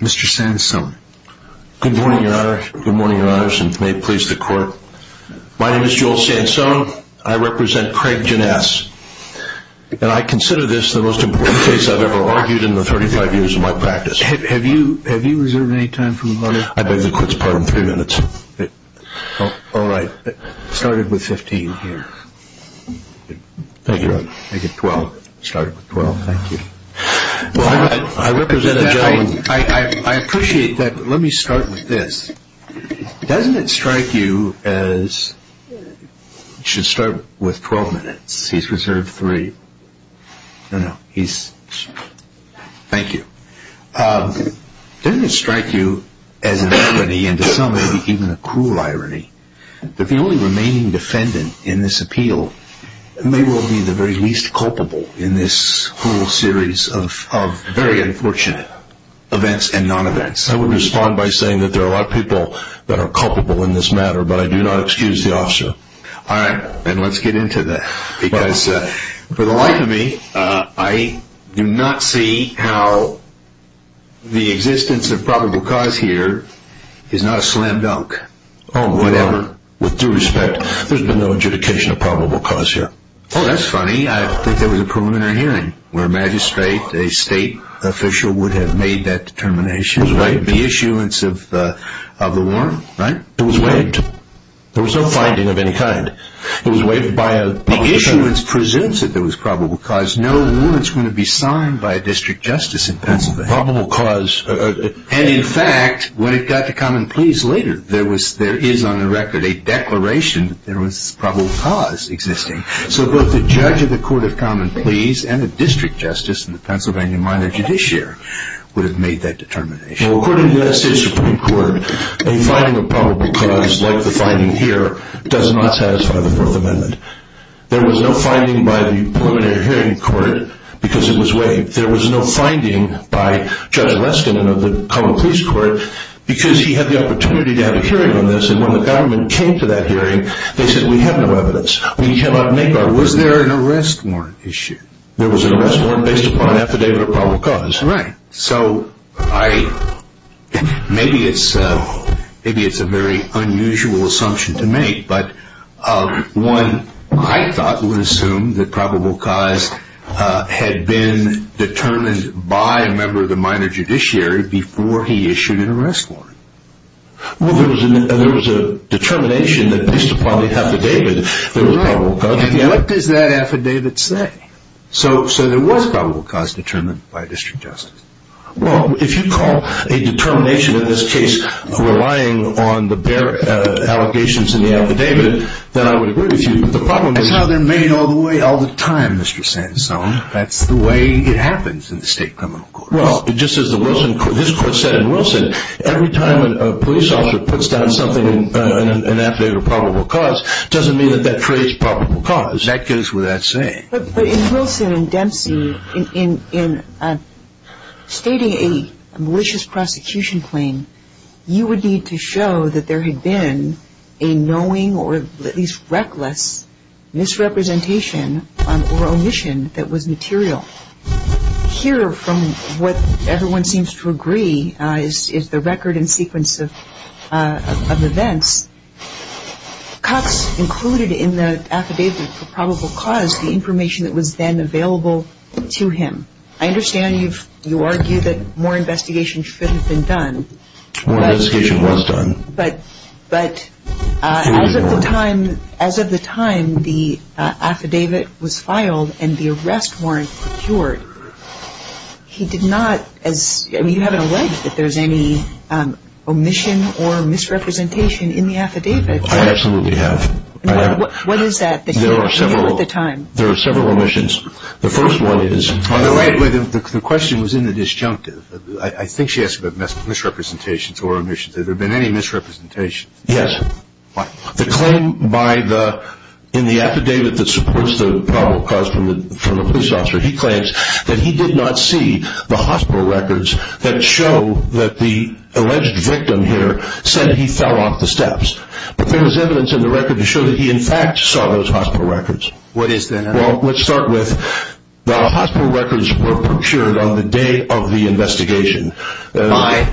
Mr. Sansone. Good morning, your honor. Good morning, your honors, and may it please the court that I consider this the most important case I've ever argued in the 35 years of my practice. Have you reserved any time for the lawyer? I beg the court's pardon, three minutes. All right. Start it with 15 here. Thank you, your honor. Make it 12. Start it with 12. Thank you. I represent a gentleman. I appreciate that, but let me start with this. Doesn't it strike you as, it should start with 12 minutes, he's reserved three. No, no, he's, thank you. Doesn't it strike you as an irony, and to some maybe even a cruel irony, that the only remaining defendant in this appeal may well be the very least culpable in this whole series of very unfortunate events and non-events? I would respond by saying that there are a lot of people that are culpable in this matter, but I do not excuse the officer. All right, then let's get into that, because for the life of me, I do not see how the existence of probable cause here is not a slam dunk. Oh, whatever. With due respect, there's been no adjudication of probable cause here. Oh, that's funny. I think there was a preliminary hearing where a magistrate, a state official would have made that determination, right? The issuance of the warrant, right? It was waived. There was no finding of any kind. It was waived by a... The issuance presumes that there was probable cause. No warrant's going to be signed by a district justice in Pennsylvania. Probable cause... And in fact, when it got to common pleas later, there is on the record a declaration that there was probable cause existing. So both the judge of the court of common pleas and the district justice and the Pennsylvania minor judiciary would have made that determination. Well, according to the United States Supreme Court, a finding of probable cause like the finding here does not satisfy the Fourth Amendment. There was no finding by the preliminary hearing court because it was waived. There was no finding by Judge Leskinen of the common pleas court because he had the opportunity to have a hearing on this, and when the government came to that hearing, they said, we have no evidence. We cannot make our... Was there an arrest warrant issued? There was an arrest warrant based upon an affidavit of probable cause. Right. So I... Maybe it's a very unusual assumption to make, but one I thought would assume that probable cause had been determined by a member of the minor judiciary before he issued an arrest warrant. Well, there was a determination that based upon the affidavit, there was probable cause. What does that affidavit say? So there was probable cause determined by a district justice. Well, if you call a determination in this case relying on the bare allegations in the affidavit, then I would agree with you. But the problem is... That's how they're made all the way, all the time, Mr. Sansone. That's the way it happens in the state criminal courts. Well, just as his court said in Wilson, every time a police officer puts down something in an affidavit of probable cause, it doesn't mean that that creates probable cause. That goes without saying. But in Wilson and Dempsey, in stating a malicious prosecution claim, you would need to show that there had been a knowing or at least reckless misrepresentation or omission that was material. Here, from what everyone seems to agree, is the record and sequence of events. Cox included in the affidavit for probable cause the information that was then available to him. I understand you argue that more investigation should have been done. More investigation was done. But as of the time the affidavit was filed and the arrest warrant procured, he did not... I mean, you haven't alleged that there's any omission or misrepresentation in the affidavit. I absolutely have. What is that? There are several omissions. The first one is... The question was in the disjunctive. I think she asked about misrepresentations or omissions. Has there been any misrepresentation? Yes. Why? The claim in the affidavit that supports the probable cause from the police officer, he claims that he did not see the hospital records that show that the alleged victim here said he fell off the steps. But there was evidence in the record to show that he, in fact, saw those hospital records. What is that? Well, let's start with the hospital records were procured on the day of the investigation. Why?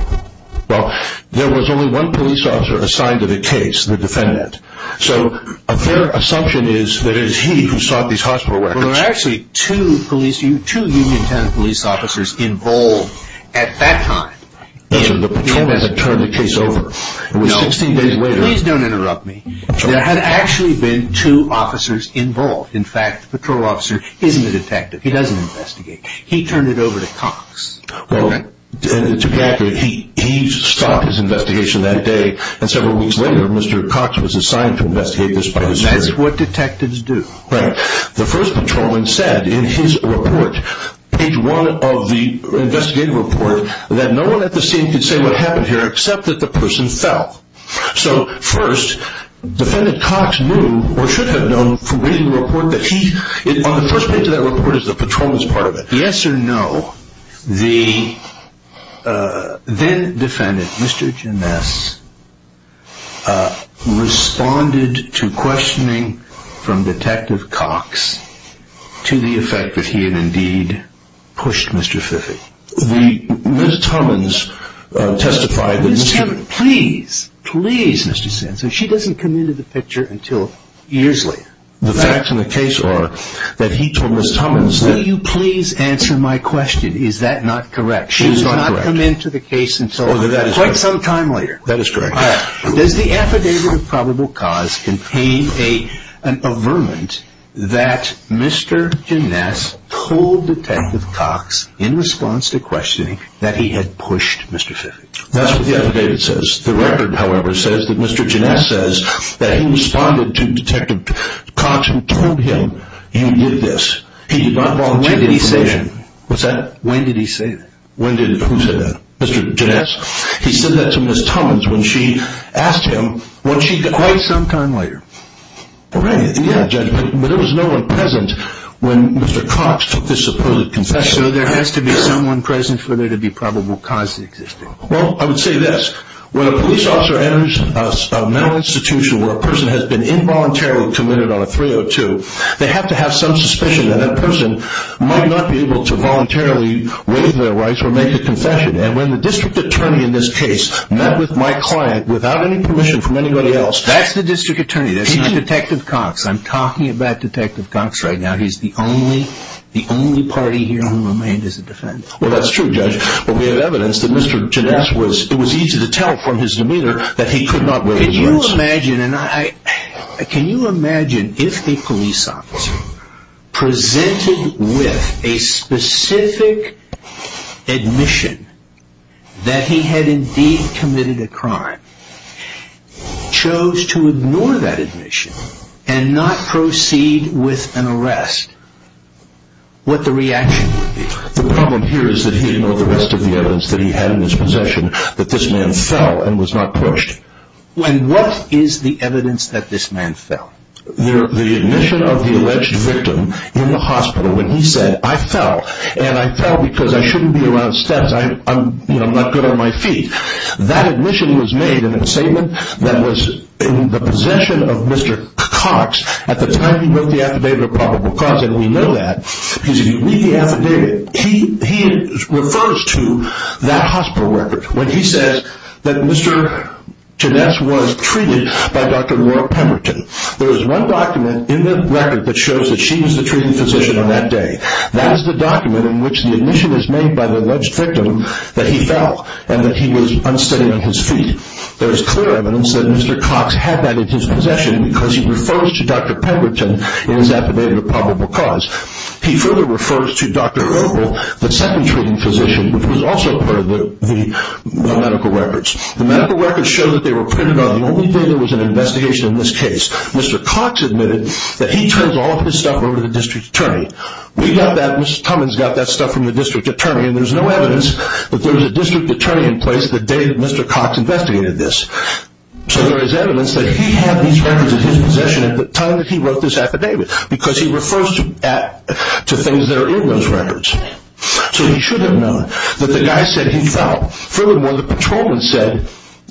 Well, there was only one police officer assigned to the case, the defendant. So, a fair assumption is that it is he who sought these hospital records. There were actually two police, two union tenant police officers involved at that time. The patrolmen had turned the case over. No. It was 16 days later. Please don't interrupt me. There had actually been two officers involved. In fact, the patrol officer is the detective. He doesn't investigate. He turned it over to Cox. Well, to be accurate, he stopped his investigation that day, and several weeks later, Mr. Cox was assigned to investigate this. That's what detectives do. Right. The first patrolman said in his report, page one of the investigative report, that no one at the scene could say what happened here except that the person fell. So, first, defendant Cox knew or should have known from reading the report that he, on the first page of that report, is the patrolman's part of it. Yes or no, the then-defendant, Mr. Ginesse, responded to questioning from Detective Cox to the effect that he had indeed pushed Mr. Fiffy. Ms. Tummins testified that Mr. Fiffy Please, please, Mr. Sensen, she doesn't come into the picture until years later. The facts of the case are that he told Ms. Tummins, Will you please answer my question, is that not correct? She does not come into the case until quite some time later. That is correct. Does the affidavit of probable cause contain an averment that Mr. Ginesse told Detective Cox in response to questioning that he had pushed Mr. Fiffy? That's what the affidavit says. The record, however, says that Mr. Ginesse says that he responded to Detective Cox who told him he did this. He did not volunteer for questioning. When did he say that? What's that? When did he say that? When did, who said that? Mr. Ginesse? He said that to Ms. Tummins when she asked him when she Quite some time later. Right, yeah, Judge, but there was no one present when Mr. Cox took this supposed confession. Yes, so there has to be someone present for there to be probable cause existing. Well, I would say this. When a police officer enters a mental institution where a person has been involuntarily committed on a 302, they have to have some suspicion that that person might not be able to voluntarily waive their rights or make a confession. And when the district attorney in this case met with my client without any permission from anybody else That's the district attorney, that's not Detective Cox. I'm talking about Detective Cox right now. He's the only party here who remained as a defendant. Well, that's true, Judge. But we have evidence that Mr. Ginesse was, it was easy to tell from his demeanor that he could not waive his rights. Can you imagine if a police officer presented with a specific admission that he had indeed committed a crime, chose to ignore that admission and not proceed with an arrest, what the reaction would be? The problem here is that he didn't know the rest of the evidence that he had in his possession that this man fell and was not pushed. And what is the evidence that this man fell? The admission of the alleged victim in the hospital when he said, I fell, and I fell because I shouldn't be around steps, I'm not good on my feet. That admission was made in a statement that was in the possession of Mr. Cox at the time he wrote the affidavit of probable cause, and we know that because if you read the affidavit, he refers to that hospital record when he says that Mr. Ginesse was treated by Dr. Laura Pemberton. There is one document in the record that shows that she was the treating physician on that day. That is the document in which the admission is made by the alleged victim that he fell and that he was unsteady on his feet. There is clear evidence that Mr. Cox had that in his possession because he refers to Dr. Pemberton in his affidavit of probable cause. He further refers to Dr. Obel, the second treating physician, which was also part of the medical records. The medical records show that they were printed on the only day there was an investigation in this case. Mr. Cox admitted that he turns all of his stuff over to the district attorney. We got that, Mr. Tummins got that stuff from the district attorney, and there is no evidence that there was a district attorney in place the day that Mr. Cox investigated this. So there is evidence that he had these records in his possession at the time that he wrote this affidavit because he refers to things that are in those records. So he should have known that the guy said he fell. Furthermore, the patrolman said,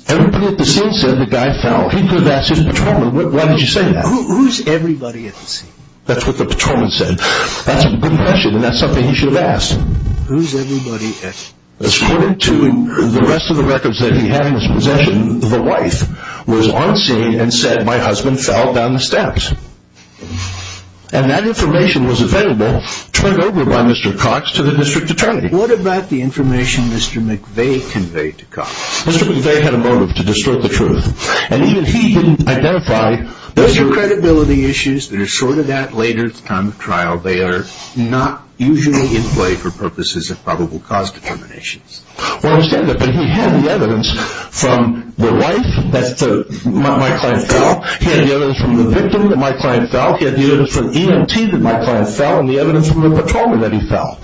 everybody at the scene said the guy fell. He could have asked his patrolman, why did you say that? Who is everybody at the scene? That's what the patrolman said. That's a good question, and that's something he should have asked. Who is everybody at the scene? According to the rest of the records that he had in his possession, the wife was on scene and said, my husband fell down the steps. And that information was available, turned over by Mr. Cox, to the district attorney. What about the information Mr. McVeigh conveyed to Cox? Mr. McVeigh had a motive to distort the truth. And even if he didn't identify, those are credibility issues that are sorted out later at the time of trial. They are not usually in play for purposes of probable cause determinations. Well, I understand that, but he had the evidence from the wife that my client fell. He had the evidence from the victim that my client fell. He had the evidence from EMT that my client fell, and the evidence from the patrolman that he fell.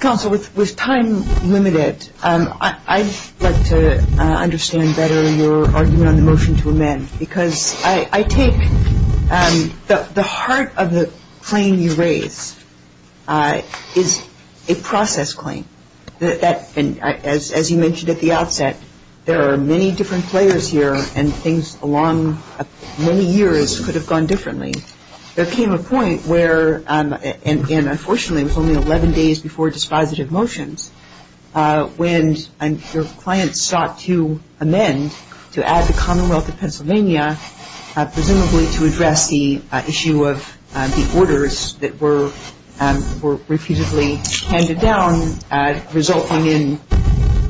Counsel, with time limited, I'd like to understand better your argument on the motion to amend, because I take the heart of the claim you raise is a process claim. As you mentioned at the outset, there are many different players here, and things along many years could have gone differently. There came a point where, and unfortunately it was only 11 days before dispositive motions, when your client sought to amend, to add the Commonwealth of Pennsylvania, presumably to address the issue of the orders that were repeatedly handed down, resulting in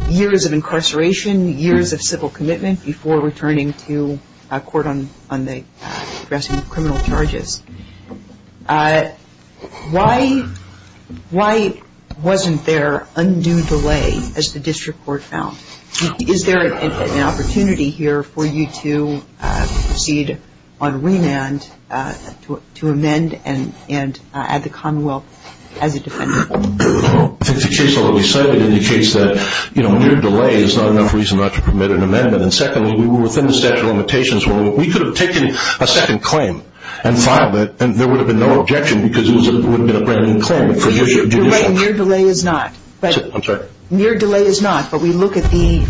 years of incarceration, years of civil commitment, before returning to court on addressing criminal charges. Why wasn't there undue delay, as the district court found? Is there an opportunity here for you to proceed on remand to amend and add the Commonwealth as a defendant? I think the case, although we cited it, indicates that near delay is not enough reason not to permit an amendment. And secondly, we were within the statute of limitations. We could have taken a second claim and filed it, and there would have been no objection, because it would have been a brand-new claim for judicial. You're right, near delay is not. I'm sorry? Near delay is not, but we look at the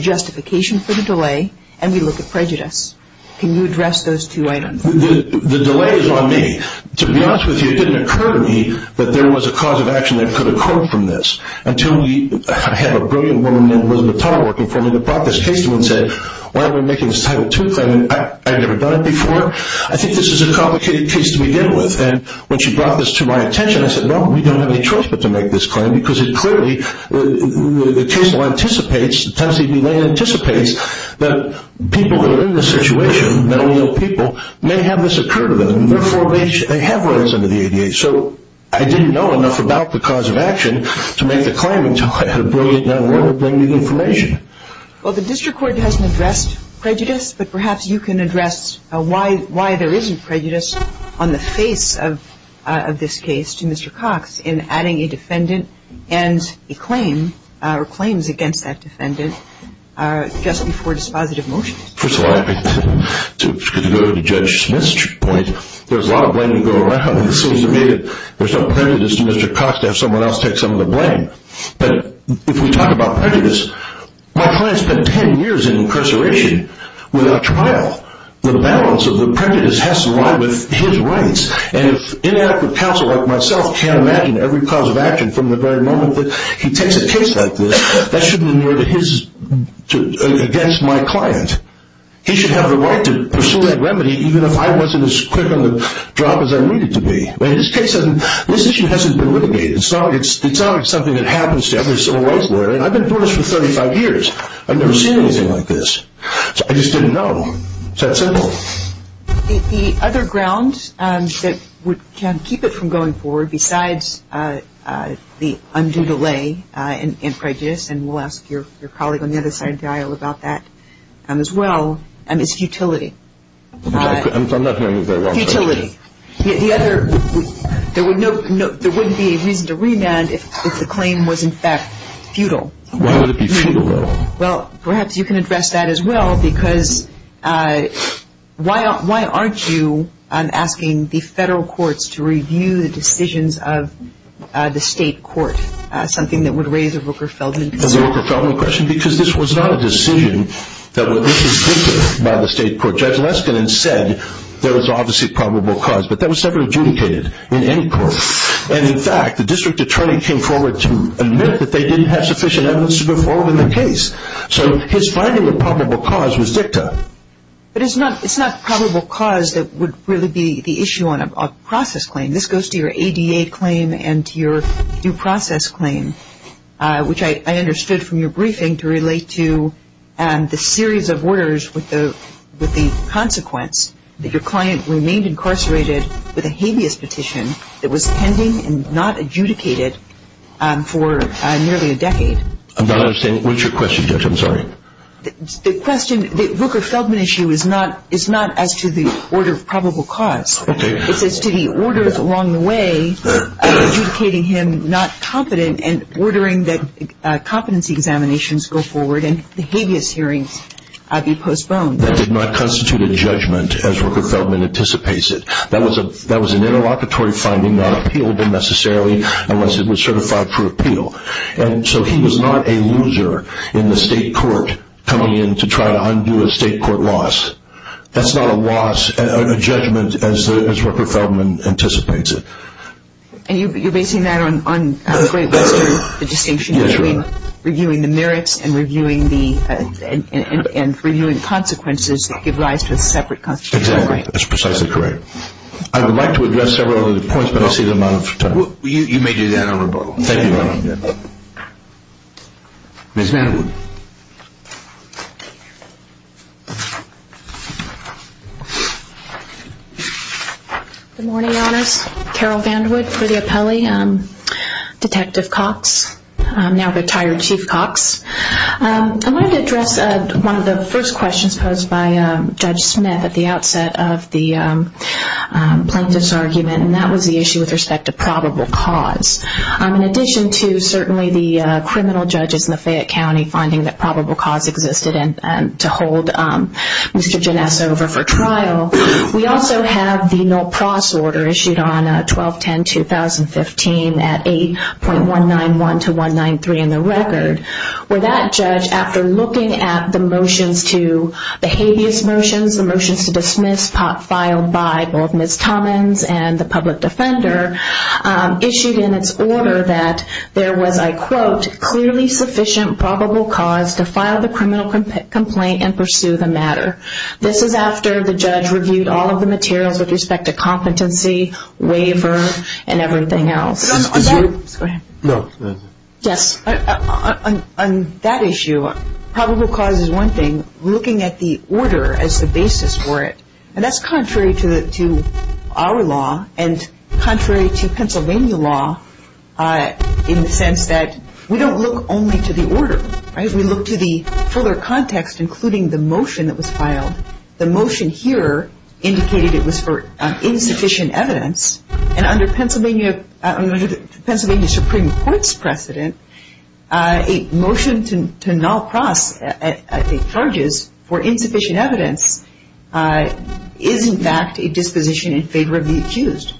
justification for the delay, and we look at prejudice. Can you address those two items? The delay is on me. To be honest with you, it didn't occur to me that there was a cause of action that could occur from this, until we had a brilliant woman, Elizabeth Tuttle, working for me, that brought this case to me and said, why are we making this Title II claim? I've never done it before. I think this is a complicated case to begin with. And when she brought this to my attention, I said, no, we don't have any choice but to make this claim, because it clearly, the case anticipates, the time of the delay anticipates, that people who are in this situation, mentally ill people, may have this occur to them. Therefore, they have what is under the ADA. So I didn't know enough about the cause of action to make the claim, until I had a brilliant young woman bring me the information. Well, the district court hasn't addressed prejudice, but perhaps you can address why there isn't prejudice on the face of this case to Mr. Cox, in adding a defendant and a claim, or claims against that defendant, just before dispositive motion. First of all, I have to go to Judge Smith's point. There's a lot of blame to go around. It seems to me that there's no prejudice to Mr. Cox to have someone else take some of the blame. But if we talk about prejudice, my client spent 10 years in incarceration without trial. The balance of the prejudice has to align with his rights. And if inadequate counsel like myself can't imagine every cause of action from the very moment that he takes a case like this, that shouldn't be against my client. He should have the right to pursue that remedy, even if I wasn't as quick on the drop as I needed to be. In this case, this issue hasn't been litigated. It's not something that happens to every civil rights lawyer. And I've been doing this for 35 years. I've never seen anything like this. I just didn't know. It's that simple. The other ground that can keep it from going forward, besides the undue delay in prejudice, and we'll ask your colleague on the other side of the aisle about that as well, is futility. I'm not going to move that one. Futility. There wouldn't be a reason to remand if the claim was, in fact, futile. Why would it be futile, though? Well, perhaps you can address that as well, because why aren't you asking the federal courts to review the decisions of the state court? Something that would raise a Rooker-Feldman question. A Rooker-Feldman question? Because this was not a decision that was disrespected by the state court. Judge Leskin had said there was obviously probable cause, but that was never adjudicated in any court. And, in fact, the district attorney came forward to admit that they didn't have sufficient evidence to go forward with the case. So his finding of probable cause was dicta. But it's not probable cause that would really be the issue on a process claim. This goes to your ADA claim and to your due process claim, which I understood from your briefing to relate to the series of orders with the consequence that your client remained incarcerated with a habeas petition that was pending and not adjudicated for nearly a decade. I'm not understanding. What's your question, Judge? I'm sorry. The question, the Rooker-Feldman issue is not as to the order of probable cause. It's as to the orders along the way of adjudicating him not competent and ordering that competency examinations go forward and the habeas hearings be postponed. That did not constitute a judgment as Rooker-Feldman anticipates it. That was an interlocutory finding, not appealable necessarily unless it was certified for appeal. And so he was not a loser in the state court coming in to try to undo a state court loss. That's not a loss, a judgment, as Rooker-Feldman anticipates it. And you're basing that on Great Western, the distinction between reviewing the merits and reviewing the consequences that give rise to a separate constitutional right. Exactly. That's precisely correct. I would like to address several other points, but I'll save the amount of time. You may do that on rebuttal. Thank you, Your Honor. Ms. Mattawood. Good morning, Your Honors. Carol Vandewood for the appellee. Detective Cox, now retired Chief Cox. I wanted to address one of the first questions posed by Judge Smith at the outset of the plaintiff's argument, and that was the issue with respect to probable cause. In addition to certainly the criminal judges in the Fayette County funding, that probable cause existed to hold Mr. Janessa over for trial, we also have the no-pros order issued on 12-10-2015 at 8.191-193 in the record, where that judge, after looking at the motions to, the habeas motions, the motions to dismiss filed by both Ms. Tommins and the public defender, issued in its order that there was, I quote, clearly sufficient probable cause to file the criminal complaint and pursue the matter. This is after the judge reviewed all of the materials with respect to competency, waiver, and everything else. On that issue, probable cause is one thing. We're looking at the order as the basis for it. And that's contrary to our law and contrary to Pennsylvania law in the sense that we don't look only to the order. We look to the fuller context, including the motion that was filed. The motion here indicated it was for insufficient evidence, and under Pennsylvania Supreme Court's precedent, a motion to no-pros charges for insufficient evidence is, in fact, a disposition in favor of the accused.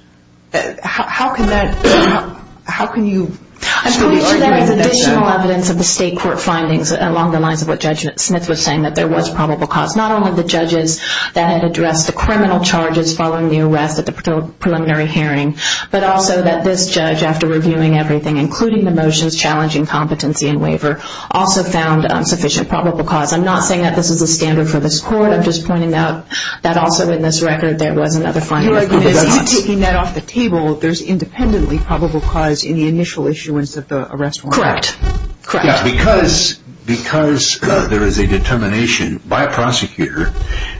How can that, how can you... There is additional evidence of the state court findings along the lines of what Judge Smith was saying, that there was probable cause. Not only the judges that had addressed the criminal charges following the arrest at the preliminary hearing, but also that this judge, after reviewing everything, including the motions challenging competency and waiver, also found sufficient probable cause. I'm not saying that this is a standard for this court. I'm just pointing out that also in this record there was another finding. You're taking that off the table. There's independently probable cause in the initial issuance of the arrest warrant. Correct. Correct. Yeah, because there is a determination by a prosecutor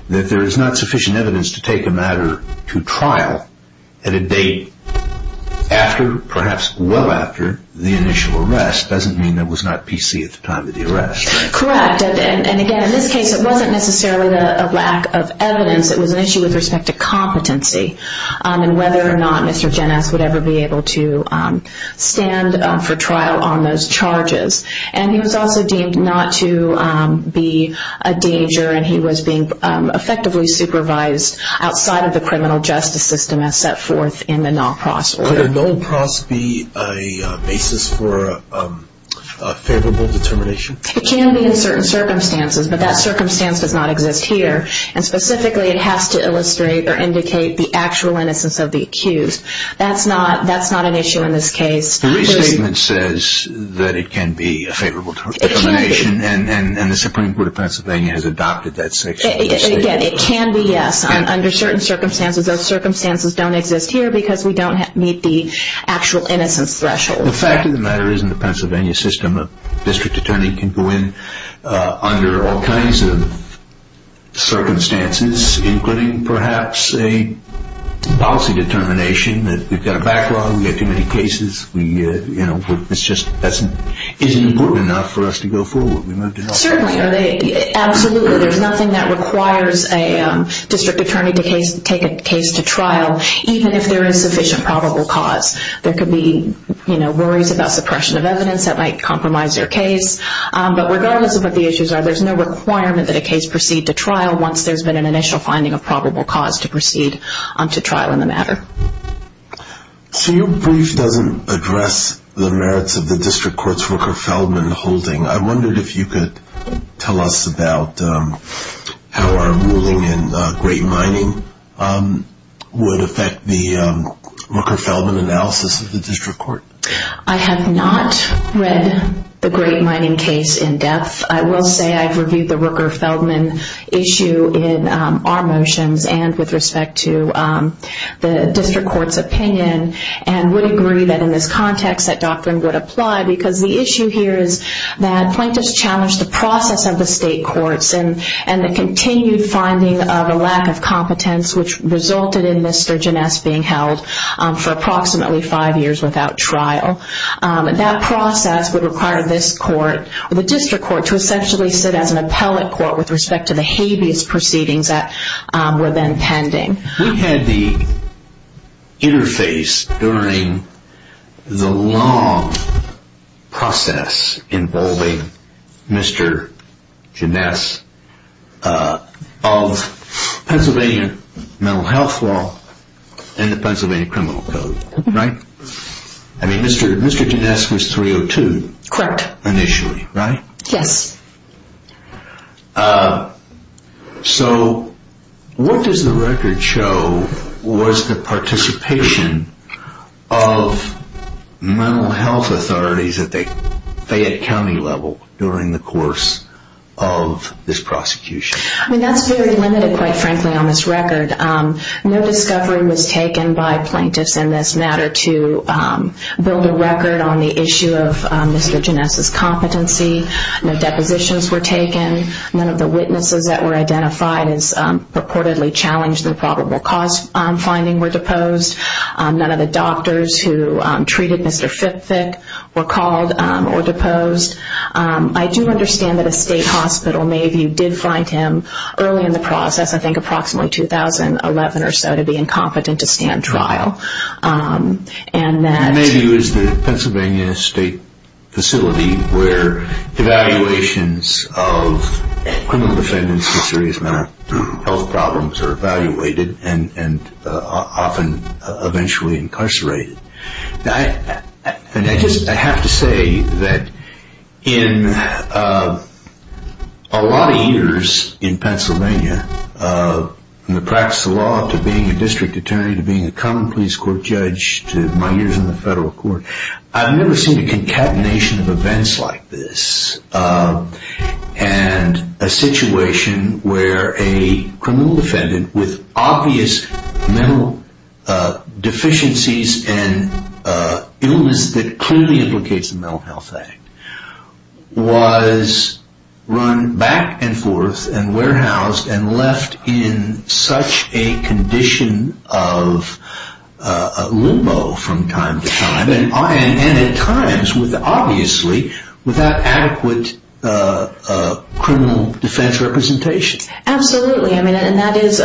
that there is not sufficient evidence to take a matter to trial at a date after, perhaps well after, the initial arrest. Doesn't mean there was not PC at the time of the arrest. Correct. And again, in this case, it wasn't necessarily a lack of evidence. It was an issue with respect to competency and whether or not Mr. Gennes would ever be able to stand for trial on those charges. And he was also deemed not to be a danger, and he was being effectively supervised outside of the criminal justice system as set forth in the Nolpross order. Could a Nolpross be a basis for a favorable determination? It can be in certain circumstances, but that circumstance does not exist here. And specifically, it has to illustrate or indicate the actual innocence of the accused. That's not an issue in this case. The restatement says that it can be a favorable determination, and the Supreme Court of Pennsylvania has adopted that section. Again, it can be, yes, under certain circumstances. Those circumstances don't exist here because we don't meet the actual innocence threshold. The fact of the matter is, in the Pennsylvania system, a district attorney can go in under all kinds of circumstances, including perhaps a policy determination that we've got a backlog, we have too many cases, it just isn't important enough for us to go forward. Certainly, absolutely. There's nothing that requires a district attorney to take a case to trial, even if there is sufficient probable cause. There could be worries about suppression of evidence that might compromise your case. But regardless of what the issues are, there's no requirement that a case proceed to trial once there's been an initial finding of probable cause to proceed to trial in the matter. Your brief doesn't address the merits of the district court's Rooker-Feldman holding. I wondered if you could tell us about how our ruling in Great Mining would affect the Rooker-Feldman analysis of the district court. I have not read the Great Mining case in depth. I will say I've reviewed the Rooker-Feldman issue in our motions and with respect to the district court's opinion and would agree that in this context that doctrine would apply because the issue here is that plaintiffs challenged the process of the state courts and the continued finding of a lack of competence, which resulted in Mr. Ginesse being held for approximately five years without trial. That process would require this court, the district court, to essentially sit as an appellate court with respect to the habeas proceedings that were then pending. We had the interface during the long process involving Mr. Ginesse of Pennsylvania mental health law and the Pennsylvania criminal code, right? I mean, Mr. Ginesse was 302 initially, right? Yes. So what does the record show was the participation of mental health authorities at the Fayette County level during the course of this prosecution? I mean, that's very limited, quite frankly, on this record. No discovery was taken by plaintiffs in this matter to build a record on the issue of Mr. Ginesse's competency. No depositions were taken. None of the witnesses that were identified as purportedly challenged the probable cause finding were deposed. None of the doctors who treated Mr. Fithick were called or deposed. I do understand that a state hospital, Mayview, did find him early in the process, I think approximately 2011 or so, to be incompetent to stand trial. Mayview is the Pennsylvania state facility where evaluations of criminal defendants with serious mental health problems are evaluated and often eventually incarcerated. I have to say that in a lot of years in Pennsylvania, from the practice of law to being a district attorney to being a common police court judge to my years in the federal court, I've never seen a concatenation of events like this and a situation where a criminal defendant with obvious mental deficiencies and illness that clearly implicates the Mental Health Act was run back and forth and warehoused and left in such a condition of limbo from time to time and at times, obviously, without adequate criminal defense representation. Absolutely, and that is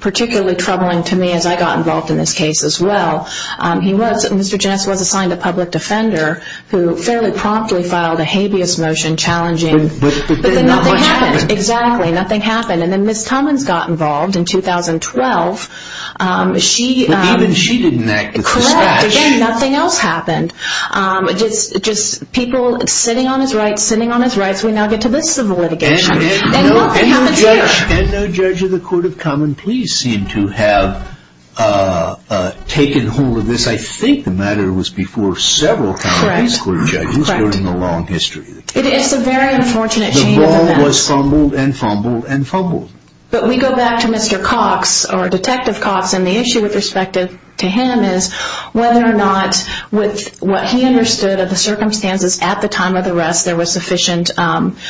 particularly troubling to me as I got involved in this case as well. Mr. Janess was assigned a public defender who fairly promptly filed a habeas motion challenging... But then not much happened. Exactly, nothing happened. And then Ms. Cummins got involved in 2012. But even she didn't act with dispatch. Correct, again, nothing else happened. Just people sitting on his rights, sitting on his rights. We now get to this civil litigation. And no judge of the court of common police seemed to have taken hold of this. I think the matter was before several common police court judges during the long history. It is a very unfortunate chain of events. The ball was fumbled and fumbled and fumbled. But we go back to Mr. Cox, or Detective Cox, and the issue with respect to him is whether or not with what he understood of the circumstances at the time of the arrest there was sufficient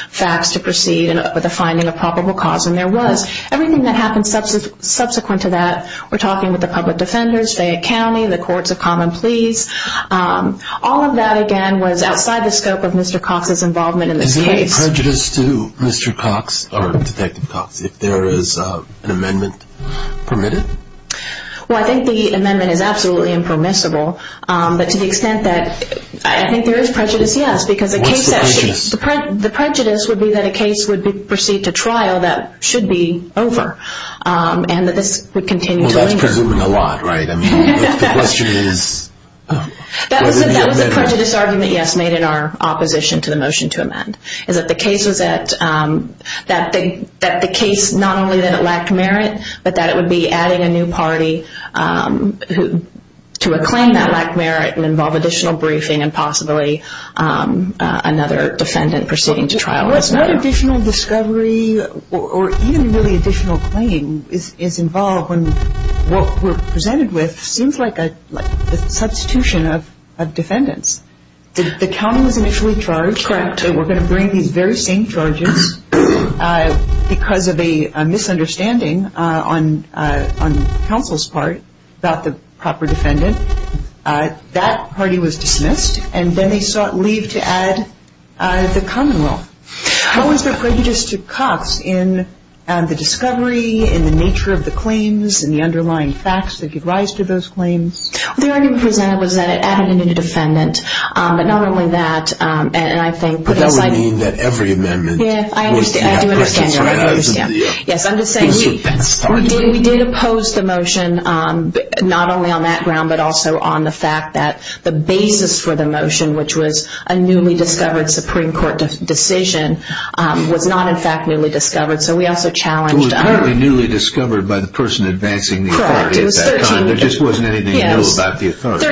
facts to proceed with the finding of probable cause, and there was. Everything that happened subsequent to that, we're talking with the public defenders, Fayette County, the courts of common police. All of that, again, was outside the scope of Mr. Cox's involvement in this case. Is there prejudice to Mr. Cox, or Detective Cox, if there is an amendment permitted? Well, I think the amendment is absolutely impermissible, but to the extent that I think there is prejudice, yes. What's the prejudice? The prejudice would be that a case would proceed to trial that should be over and that this would continue to be. Well, that's presuming a lot, right? I mean, the question is whether it would be amended. That was a prejudice argument, yes, made in our opposition to the motion to amend, is that the case not only that it lacked merit, but that it would be adding a new party to a claim that lacked merit and involve additional briefing and possibly another defendant proceeding to trial. What additional discovery or even really additional claim is involved when what we're presented with seems like a substitution of defendants? The county was initially charged that we're going to bring these very same charges because of a misunderstanding on counsel's part about the proper defendant. That party was dismissed, and then they sought leave to add the commonwealth. How is there prejudice to Cox in the discovery, in the nature of the claims, in the underlying facts that could rise to those claims? The argument presented was that it added a new defendant, but not only that, But that would mean that every amendment was to have prejudice, right? Yes, I'm just saying we did oppose the motion, not only on that ground, but also on the fact that the basis for the motion, which was a newly discovered Supreme Court decision, was not in fact newly discovered. So we also challenged It was apparently newly discovered by the person advancing the authority at that time. There just wasn't anything new about the authority.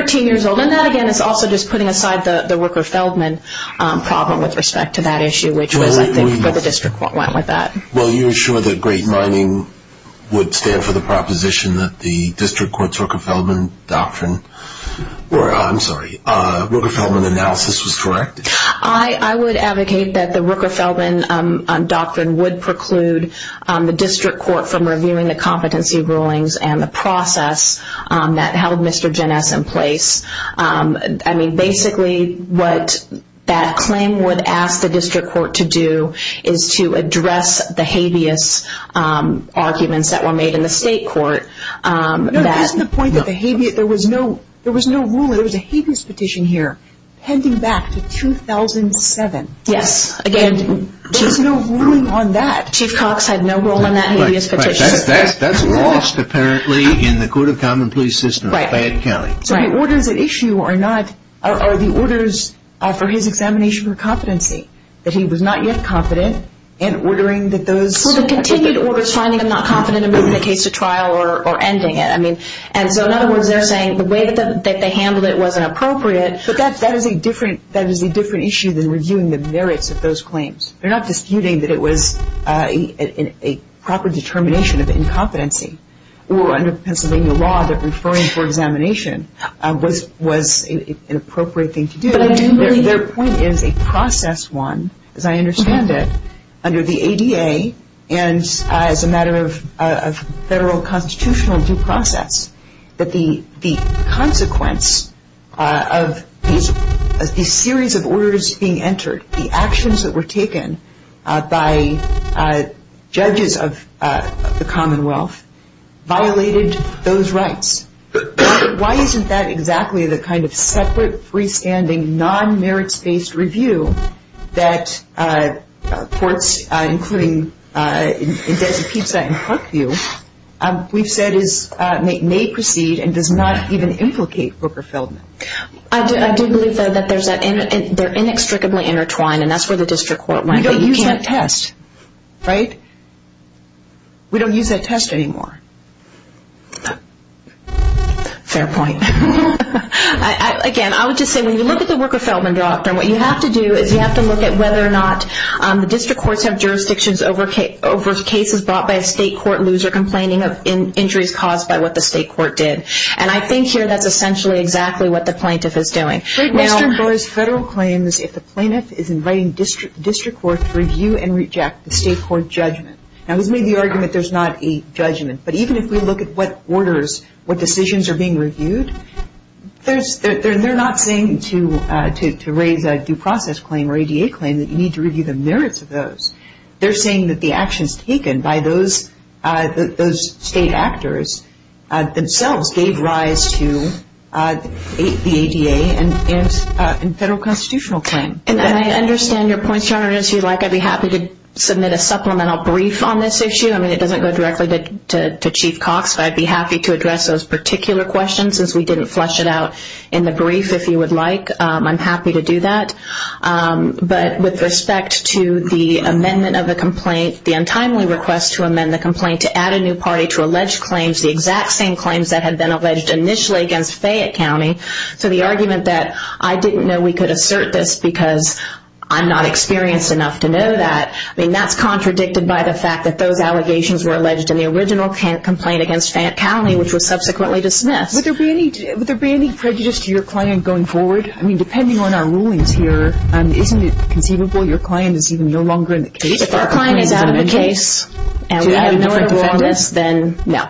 And that, again, is also just putting aside the Rooker-Feldman problem with respect to that issue, which was, I think, where the district court went with that. Well, you're sure that great mining would stand for the proposition that the district court's Rooker-Feldman analysis was correct? I would advocate that the Rooker-Feldman doctrine would preclude the district court from reviewing the competency rulings and the process that held Mr. Geness in place. I mean, basically what that claim would ask the district court to do is to address the habeas arguments that were made in the state court. No, that's the point that there was no ruling. There was a habeas petition here pending back to 2007. Yes. There was no ruling on that. Chief Cox had no role in that habeas petition. That's lost, apparently, in the Court of Common Pleas system of Platt County. So the orders at issue are the orders for his examination for competency, that he was not yet confident in ordering that those... So the continued orders finding him not confident in moving the case to trial or ending it. And so, in other words, they're saying the way that they handled it wasn't appropriate. But that is a different issue than reviewing the merits of those claims. They're not disputing that it was a proper determination of incompetency or under Pennsylvania law that referring for examination was an appropriate thing to do. But I didn't really... Their point is a process one, as I understand it, under the ADA, and as a matter of federal constitutional due process, that the consequence of these series of orders being entered, the actions that were taken by judges of the Commonwealth, violated those rights. Why isn't that exactly the kind of separate, freestanding, non-merits-based review that courts, including in Desipetsa and Parkview, we've said may precede and does not even implicate Booker Feldman? I do believe, though, that they're inextricably intertwined, and that's where the district court went. You don't use that test, right? We don't use that test anymore. Fair point. Again, I would just say when you look at the Booker Feldman doctrine, what you have to do is you have to look at whether or not the district courts have jurisdictions over cases brought by a state court loser complaining of injuries caused by what the state court did. And I think here that's essentially exactly what the plaintiff is doing. Mr. Boyle's federal claim is if the plaintiff is inviting district court to review and reject the state court judgment. Now, he's made the argument there's not a judgment, but even if we look at what orders, what decisions are being reviewed, they're not saying to raise a due process claim or ADA claim that you need to review the merits of those. They're saying that the actions taken by those state actors themselves gave rise to the ADA and federal constitutional claim. And I understand your points, Your Honor. And if you'd like, I'd be happy to submit a supplemental brief on this issue. I mean, it doesn't go directly to Chief Cox, but I'd be happy to address those particular questions since we didn't flesh it out in the brief, if you would like. I'm happy to do that. But with respect to the amendment of the complaint, the untimely request to amend the complaint to add a new party to alleged claims, the exact same claims that had been alleged initially against Fayette County, so the argument that I didn't know we could assert this because I'm not experienced enough to know that, I mean, that's contradicted by the fact that those allegations were alleged in the original complaint against Fayette County, which was subsequently dismissed. Would there be any prejudice to your client going forward? I mean, depending on our rulings here, isn't it conceivable your client is even no longer in the case? If our client is out of the case and we have no other witness, then no.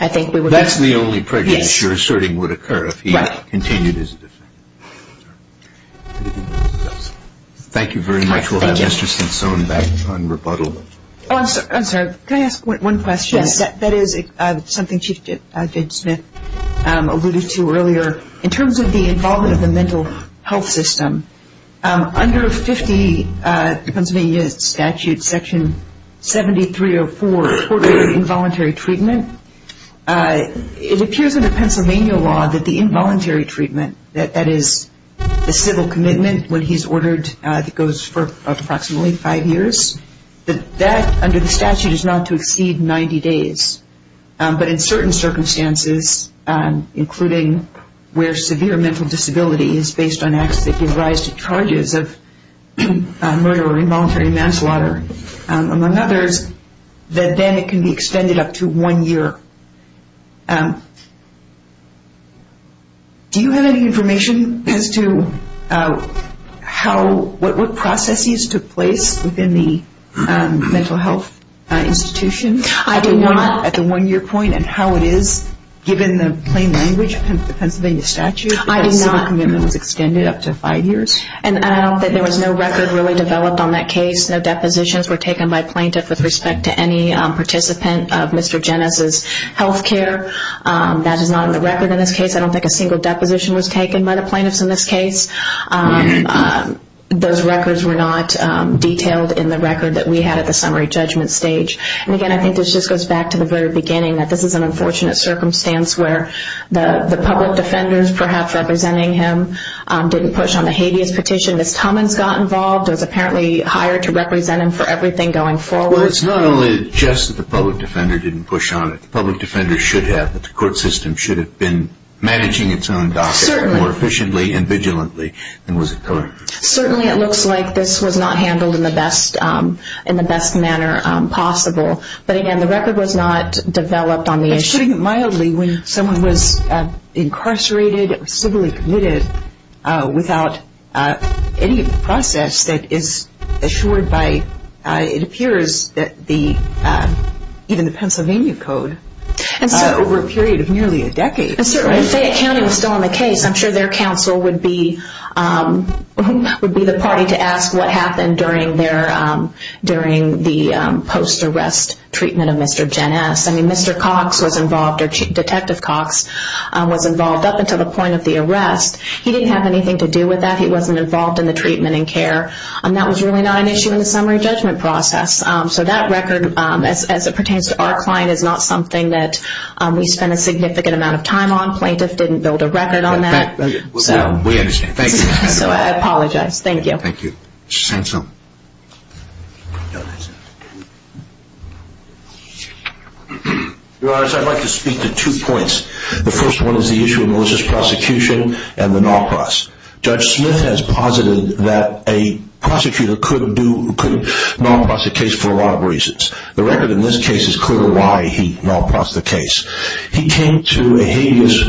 I think we would be. That's the only prejudice your asserting would occur if he continued his defense. Thank you very much. We'll have Mr. Stinson back on rebuttal. Oh, I'm sorry. Can I ask one question? That is something Chief Judge Smith alluded to earlier. In terms of the involvement of the mental health system, under Pennsylvania Statute Section 7304, Court-ordered involuntary treatment, it appears under Pennsylvania law that the involuntary treatment, that is the civil commitment when he's ordered, it goes for approximately five years, that that under the statute is not to exceed 90 days. But in certain circumstances, including where severe mental disability is based on acts that give rise to charges of murder or involuntary manslaughter, among others, that then it can be extended up to one year. Do you have any information as to what processes took place within the mental health institution? I do not. At the one-year point and how it is, given the plain language of the Pennsylvania statute? I do not. The civil commitment was extended up to five years? And I don't think there was no record really developed on that case. No depositions were taken by plaintiff with respect to any participant of Mr. Jenez's health care. That is not on the record in this case. I don't think a single deposition was taken by the plaintiffs in this case. Those records were not detailed in the record that we had at the summary judgment stage. And again, I think this just goes back to the very beginning, that this is an unfortunate circumstance where the public defenders, perhaps representing him, didn't push on the habeas petition. Ms. Tummins got involved and was apparently hired to represent him for everything going forward. Well, it's not only just that the public defender didn't push on it. The public defender should have. The court system should have been managing its own docket more efficiently and vigilantly than was it going. Certainly it looks like this was not handled in the best manner possible. But again, the record was not developed on the issue. It's putting it mildly when someone was incarcerated, civilly committed, without any process that is assured by, it appears, even the Pennsylvania Code over a period of nearly a decade. If Fayette County was still on the case, I'm sure their counsel would be the party to ask what happened during the post-arrest treatment of Mr. Janess. I mean, Mr. Cox was involved, or Detective Cox was involved up until the point of the arrest. He didn't have anything to do with that. He wasn't involved in the treatment and care. And that was really not an issue in the summary judgment process. So that record, as it pertains to our client, is not something that we spent a significant amount of time on. Plaintiff didn't build a record on that. We understand. Thank you. So I apologize. Thank you. Thank you. Ms. Hanson. Your Honor, I'd like to speak to two points. The first one is the issue of Moses' prosecution and the non-prose. Judge Smith has posited that a prosecutor could mal-prose the case for a lot of reasons. The record in this case is clear why he mal-prose the case. He came to a habeas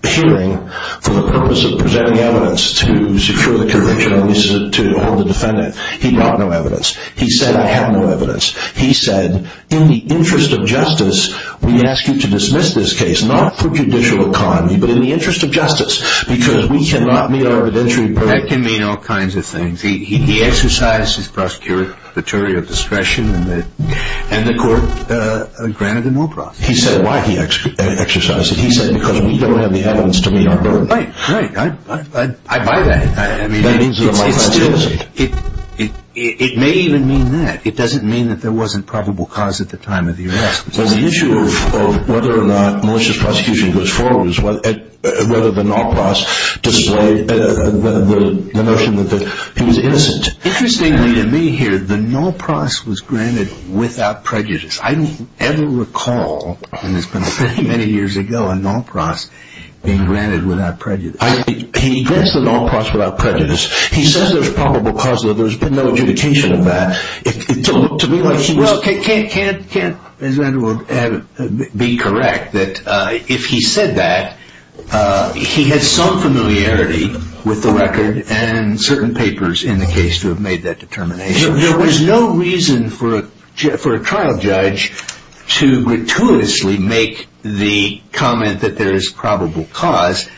hearing for the purpose of presenting evidence to secure the conviction, at least to hold the defendant. He got no evidence. He said, I have no evidence. He said, in the interest of justice, we ask you to dismiss this case, not for judicial economy, but in the interest of justice, because we cannot meet our evidentiary purpose. That can mean all kinds of things. He exercised his prosecutorial discretion, and the court granted him no prosecution. He said why he exercised it. He said, because we don't have the evidence to meet our purpose. Right, right. I buy that. I mean, it still, it may even mean that. It doesn't mean that there wasn't probable cause at the time of the arrest. The issue of whether or not malicious prosecution goes forward is whether the non-prose, the notion that he was innocent. Interestingly to me here, the non-prose was granted without prejudice. I don't ever recall, and it's been many, many years ago, a non-prose being granted without prejudice. He addressed the non-prose without prejudice. He says there's probable cause, but there's been no adjudication of that. Well, it can't be correct that if he said that, he had some familiarity with the record and certain papers in the case to have made that determination. There was no reason for a trial judge to gratuitously make the comment that there is probable cause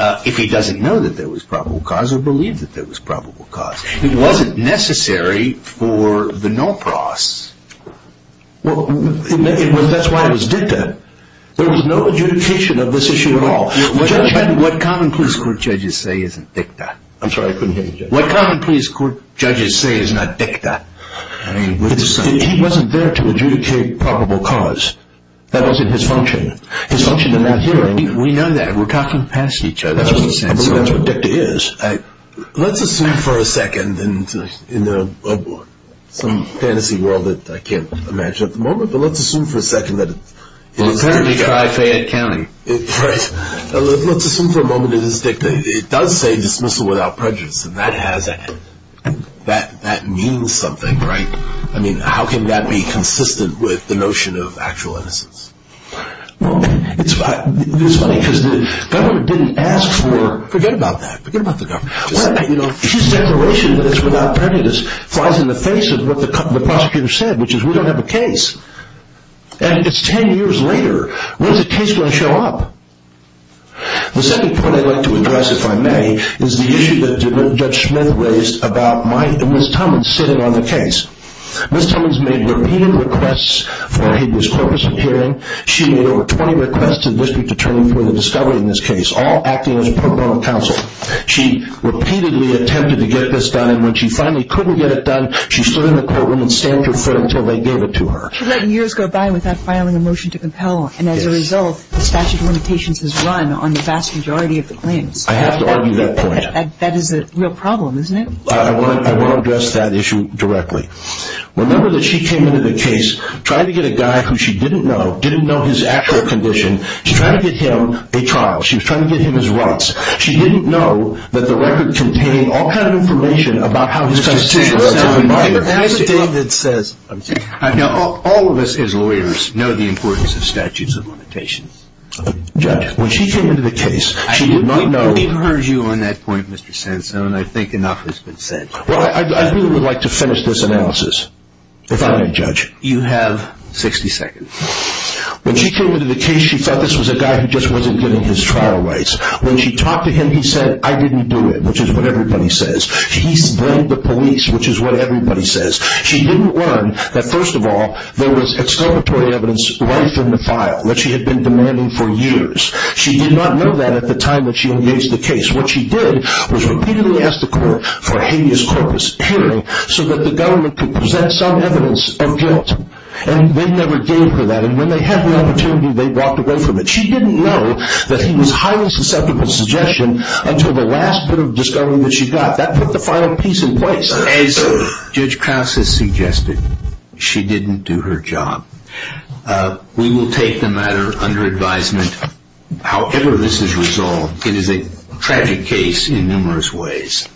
if he doesn't know that there was probable cause or believe that there was probable cause. It wasn't necessary for the non-prose. Well, that's why it was dicta. There was no adjudication of this issue at all. What common police court judges say isn't dicta. I'm sorry, I couldn't hear you, Judge. What common police court judges say is not dicta. He wasn't there to adjudicate probable cause. That wasn't his function. His function in that hearing, we know that. We're talking past each other. I believe that's what dicta is. Let's assume for a second, in some fantasy world that I can't imagine at the moment, but let's assume for a second that it is dicta. Well, apparently try Fayette County. Right. Let's assume for a moment that it is dicta. It does say dismissal without prejudice, and that means something. Right. I mean, how can that be consistent with the notion of actual innocence? Well, it's funny because the government didn't ask for, forget about that, forget about the government. You know, his declaration that it's without prejudice flies in the face of what the prosecutor said, which is we don't have a case. And it's 10 years later. When is a case going to show up? The second point I'd like to address, if I may, is the issue that Judge Smith raised about Ms. Tummins sitting on the case. Ms. Tummins made repeated requests for a habeas corpus appearing. She made over 20 requests to the district attorney for the discovery in this case, all acting as pro bono counsel. She repeatedly attempted to get this done, and when she finally couldn't get it done, she stood in the courtroom and stamped her foot until they gave it to her. She let years go by without filing a motion to compel, and as a result the statute of limitations has run on the vast majority of the claims. I have to argue that point. That is a real problem, isn't it? I want to address that issue directly. Remember that she came into the case, tried to get a guy who she didn't know, didn't know his actual condition. She tried to get him a trial. She was trying to get him his rights. She didn't know that the record contained all kind of information about how his constitutional rights had been violated. All of us as lawyers know the importance of statutes of limitations. Judge, when she came into the case, she did not know. We've heard you on that point, Mr. Sansone. I think enough has been said. Well, I really would like to finish this analysis if I may, Judge. You have 60 seconds. When she came into the case, she thought this was a guy who just wasn't getting his trial rights. When she talked to him, he said, I didn't do it, which is what everybody says. He blamed the police, which is what everybody says. She didn't learn that, first of all, there was excavatory evidence right from the file that she had been demanding for years. She did not know that at the time that she engaged the case. What she did was repeatedly ask the court for a habeas corpus hearing so that the government could present some evidence of guilt. And they never gave her that. And when they had the opportunity, they walked away from it. She didn't know that he was highly susceptible to suggestion until the last bit of discovery that she got. That put the final piece in place. As Judge Krause has suggested, she didn't do her job. We will take the matter under advisement. However this is resolved, it is a tragic case in numerous ways.